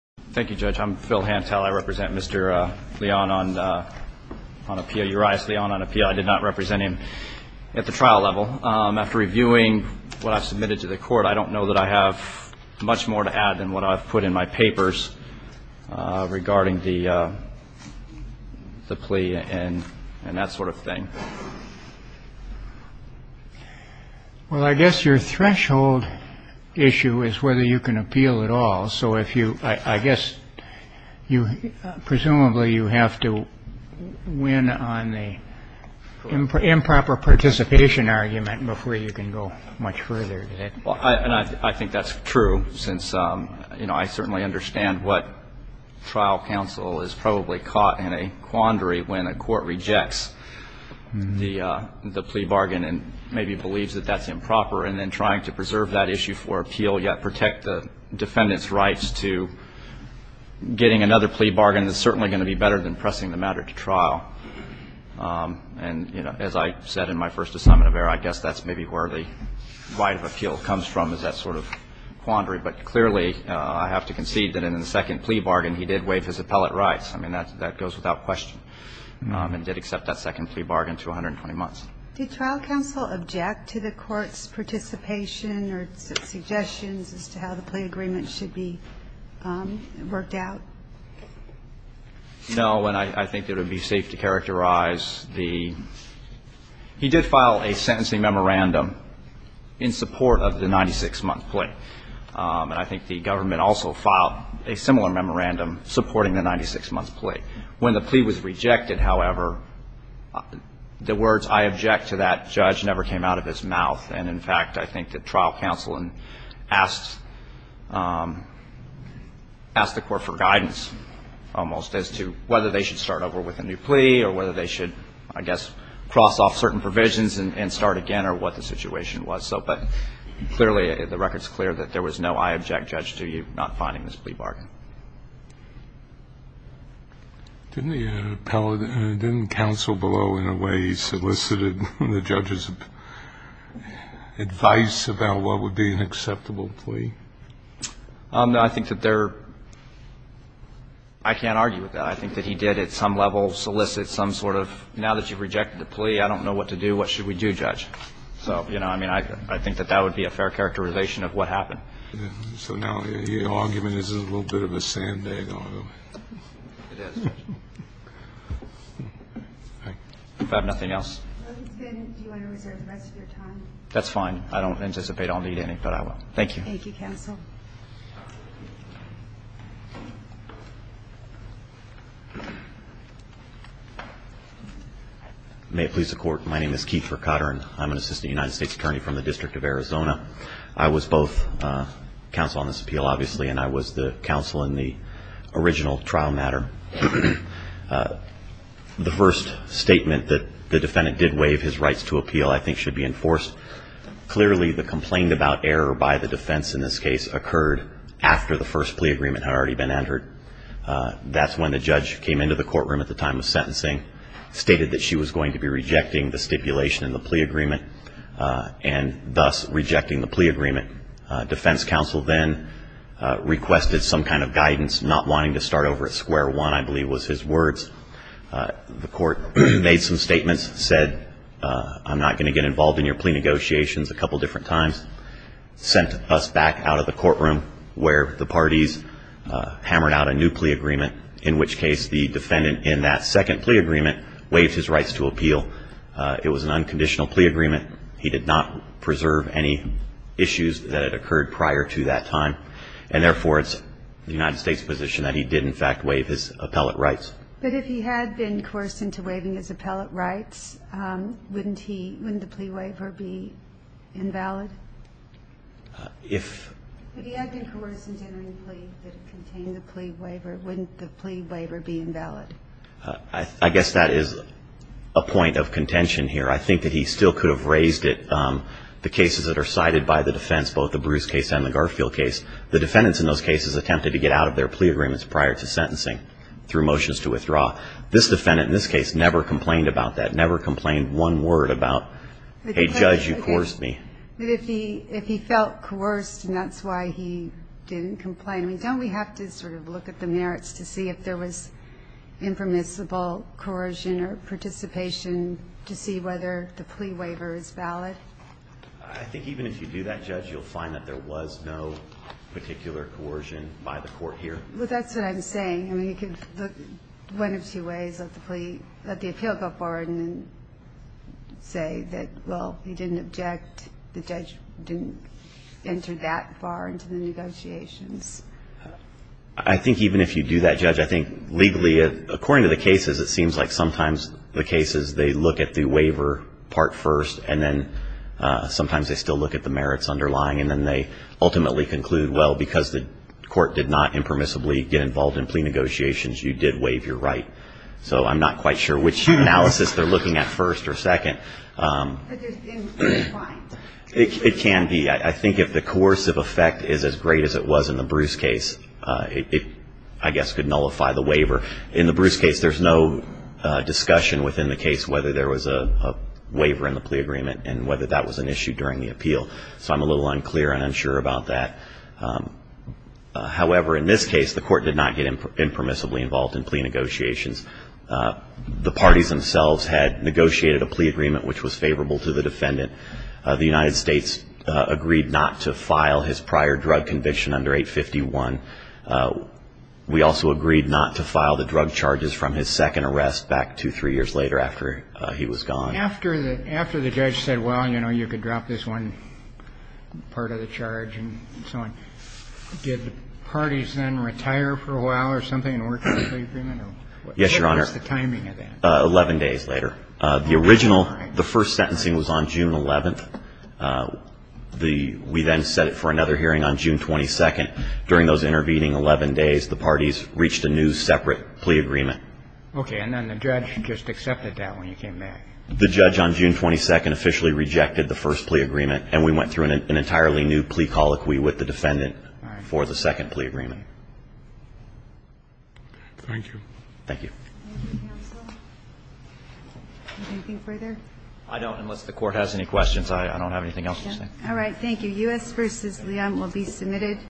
Thank you, Judge. I'm Phil Hantel. I represent Mr. Leon on appeal, Urias Leon on appeal. I did not represent him at the trial level. After reviewing what I've submitted to the court, I don't know that I have much more to add than what I've put in my papers regarding the plea and that sort of thing. Well, I guess your threshold issue is whether you can appeal at all. So if you I guess you presumably you have to win on the improper participation argument before you can go much further. Well, and I think that's true since, you know, I certainly understand what trial counsel is probably caught in a quandary when a court rejects the plea bargain and maybe believes that that's improper. And then trying to preserve that issue for appeal yet protect the defendant's rights to getting another plea bargain is certainly going to be better than pressing the matter to trial. And, you know, as I said in my first assignment of error, I guess that's maybe where the right of appeal comes from is that sort of quandary. But clearly, I have to concede that in the second plea bargain, he did waive his appellate rights. I mean, that goes without question, and did accept that second plea bargain to 120 months. Did trial counsel object to the Court's participation or suggestions as to how the plea agreement should be worked out? No, and I think it would be safe to characterize the he did file a sentencing memorandum in support of the 96-month plea. And I think the government also filed a similar memorandum supporting the 96-month plea. When the plea was rejected, however, the words I object to that judge never came out of his mouth. And, in fact, I think that trial counsel asked the Court for guidance almost as to whether they should start over with a new plea or whether they should, I guess, cross off certain provisions and start again or what the situation was. But clearly, the record is clear that there was no I object judge to you not finding this plea bargain. Didn't the appellate, didn't counsel below in a way solicited the judge's advice about what would be an acceptable plea? No, I think that there – I can't argue with that. I think that he did at some level solicit some sort of, now that you've rejected the plea, I don't know what to do, what should we do, Judge? So, you know, I mean, I think that that would be a fair characterization of what happened. So now your argument is a little bit of a sandbag argument. It is. If I have nothing else. Do you want to reserve the rest of your time? That's fine. I don't anticipate I'll need any, but I will. Thank you. Thank you, counsel. May it please the Court. My name is Keith Ricotter, and I'm an assistant United States attorney from the District of Arizona. I was both counsel on this appeal, obviously, and I was the counsel in the original trial matter. The first statement that the defendant did waive his rights to appeal I think should be enforced. Clearly, the complaint about error by the defense in this case occurred after the first plea agreement had already been entered. That's when the judge came into the courtroom at the time of sentencing, stated that she was going to be rejecting the stipulation in the plea agreement, and thus rejecting the plea agreement. Defense counsel then requested some kind of guidance, not wanting to start over at square one, I believe was his words. The court made some statements, said I'm not going to get involved in your plea negotiations a couple different times, sent us back out of the courtroom where the parties hammered out a new plea agreement, in which case the defendant in that second plea agreement waived his rights to appeal. It was an unconditional plea agreement. He did not preserve any issues that had occurred prior to that time, and therefore it's the United States' position that he did in fact waive his appellate rights. But if he had been coerced into waiving his appellate rights, wouldn't he – wouldn't the plea waiver be invalid? If – If he had been coerced into entering a plea that contained the plea waiver, wouldn't the plea waiver be invalid? I guess that is a point of contention here. I think that he still could have raised it, the cases that are cited by the defense, both the Bruce case and the Garfield case. The defendants in those cases attempted to get out of their plea agreements prior to sentencing through motions to withdraw. This defendant in this case never complained about that, never complained one word about, hey, judge, you coerced me. But if he – if he felt coerced and that's why he didn't complain, don't we have to sort of look at the merits to see if there was impermissible coercion or participation to see whether the plea waiver is valid? I think even if you do that, Judge, you'll find that there was no particular coercion by the court here. Well, that's what I'm saying. I mean, you could look one of two ways, let the plea – let the appeal go forward and say that, well, he didn't object, the judge didn't enter that far into the negotiations. I think even if you do that, Judge, I think legally, according to the cases, it seems like sometimes the cases they look at the waiver part first and then sometimes they still look at the merits underlying and then they ultimately conclude, well, because the court did not impermissibly get involved in plea negotiations, you did waive your right. So I'm not quite sure which analysis they're looking at first or second. But there's – it's fine. It can be. I think if the coercive effect is as great as it was in the Bruce case, it, I guess, could nullify the waiver. In the Bruce case, there's no discussion within the case whether there was a waiver in the plea agreement and whether that was an issue during the appeal. So I'm a little unclear and unsure about that. However, in this case, the court did not get impermissibly involved in plea negotiations. The parties themselves had negotiated a plea agreement which was favorable to the defendant. The United States agreed not to file his prior drug conviction under 851. We also agreed not to file the drug charges from his second arrest back two, three years later after he was gone. After the judge said, well, you know, you could drop this one part of the charge and so on, did the parties then retire for a while or something and work on the plea agreement? Yes, Your Honor. What was the timing of that? Eleven days later. The original, the first sentencing was on June 11th. We then set it for another hearing on June 22nd. During those intervening 11 days, the parties reached a new separate plea agreement. Okay. And then the judge just accepted that when you came back. The judge on June 22nd officially rejected the first plea agreement and we went through an entirely new plea colloquy with the defendant for the second plea agreement. Thank you. Thank you. Anything further? I don't, unless the court has any questions. I don't have anything else to say. All right. Thank you. U.S. v. Liam will be submitted.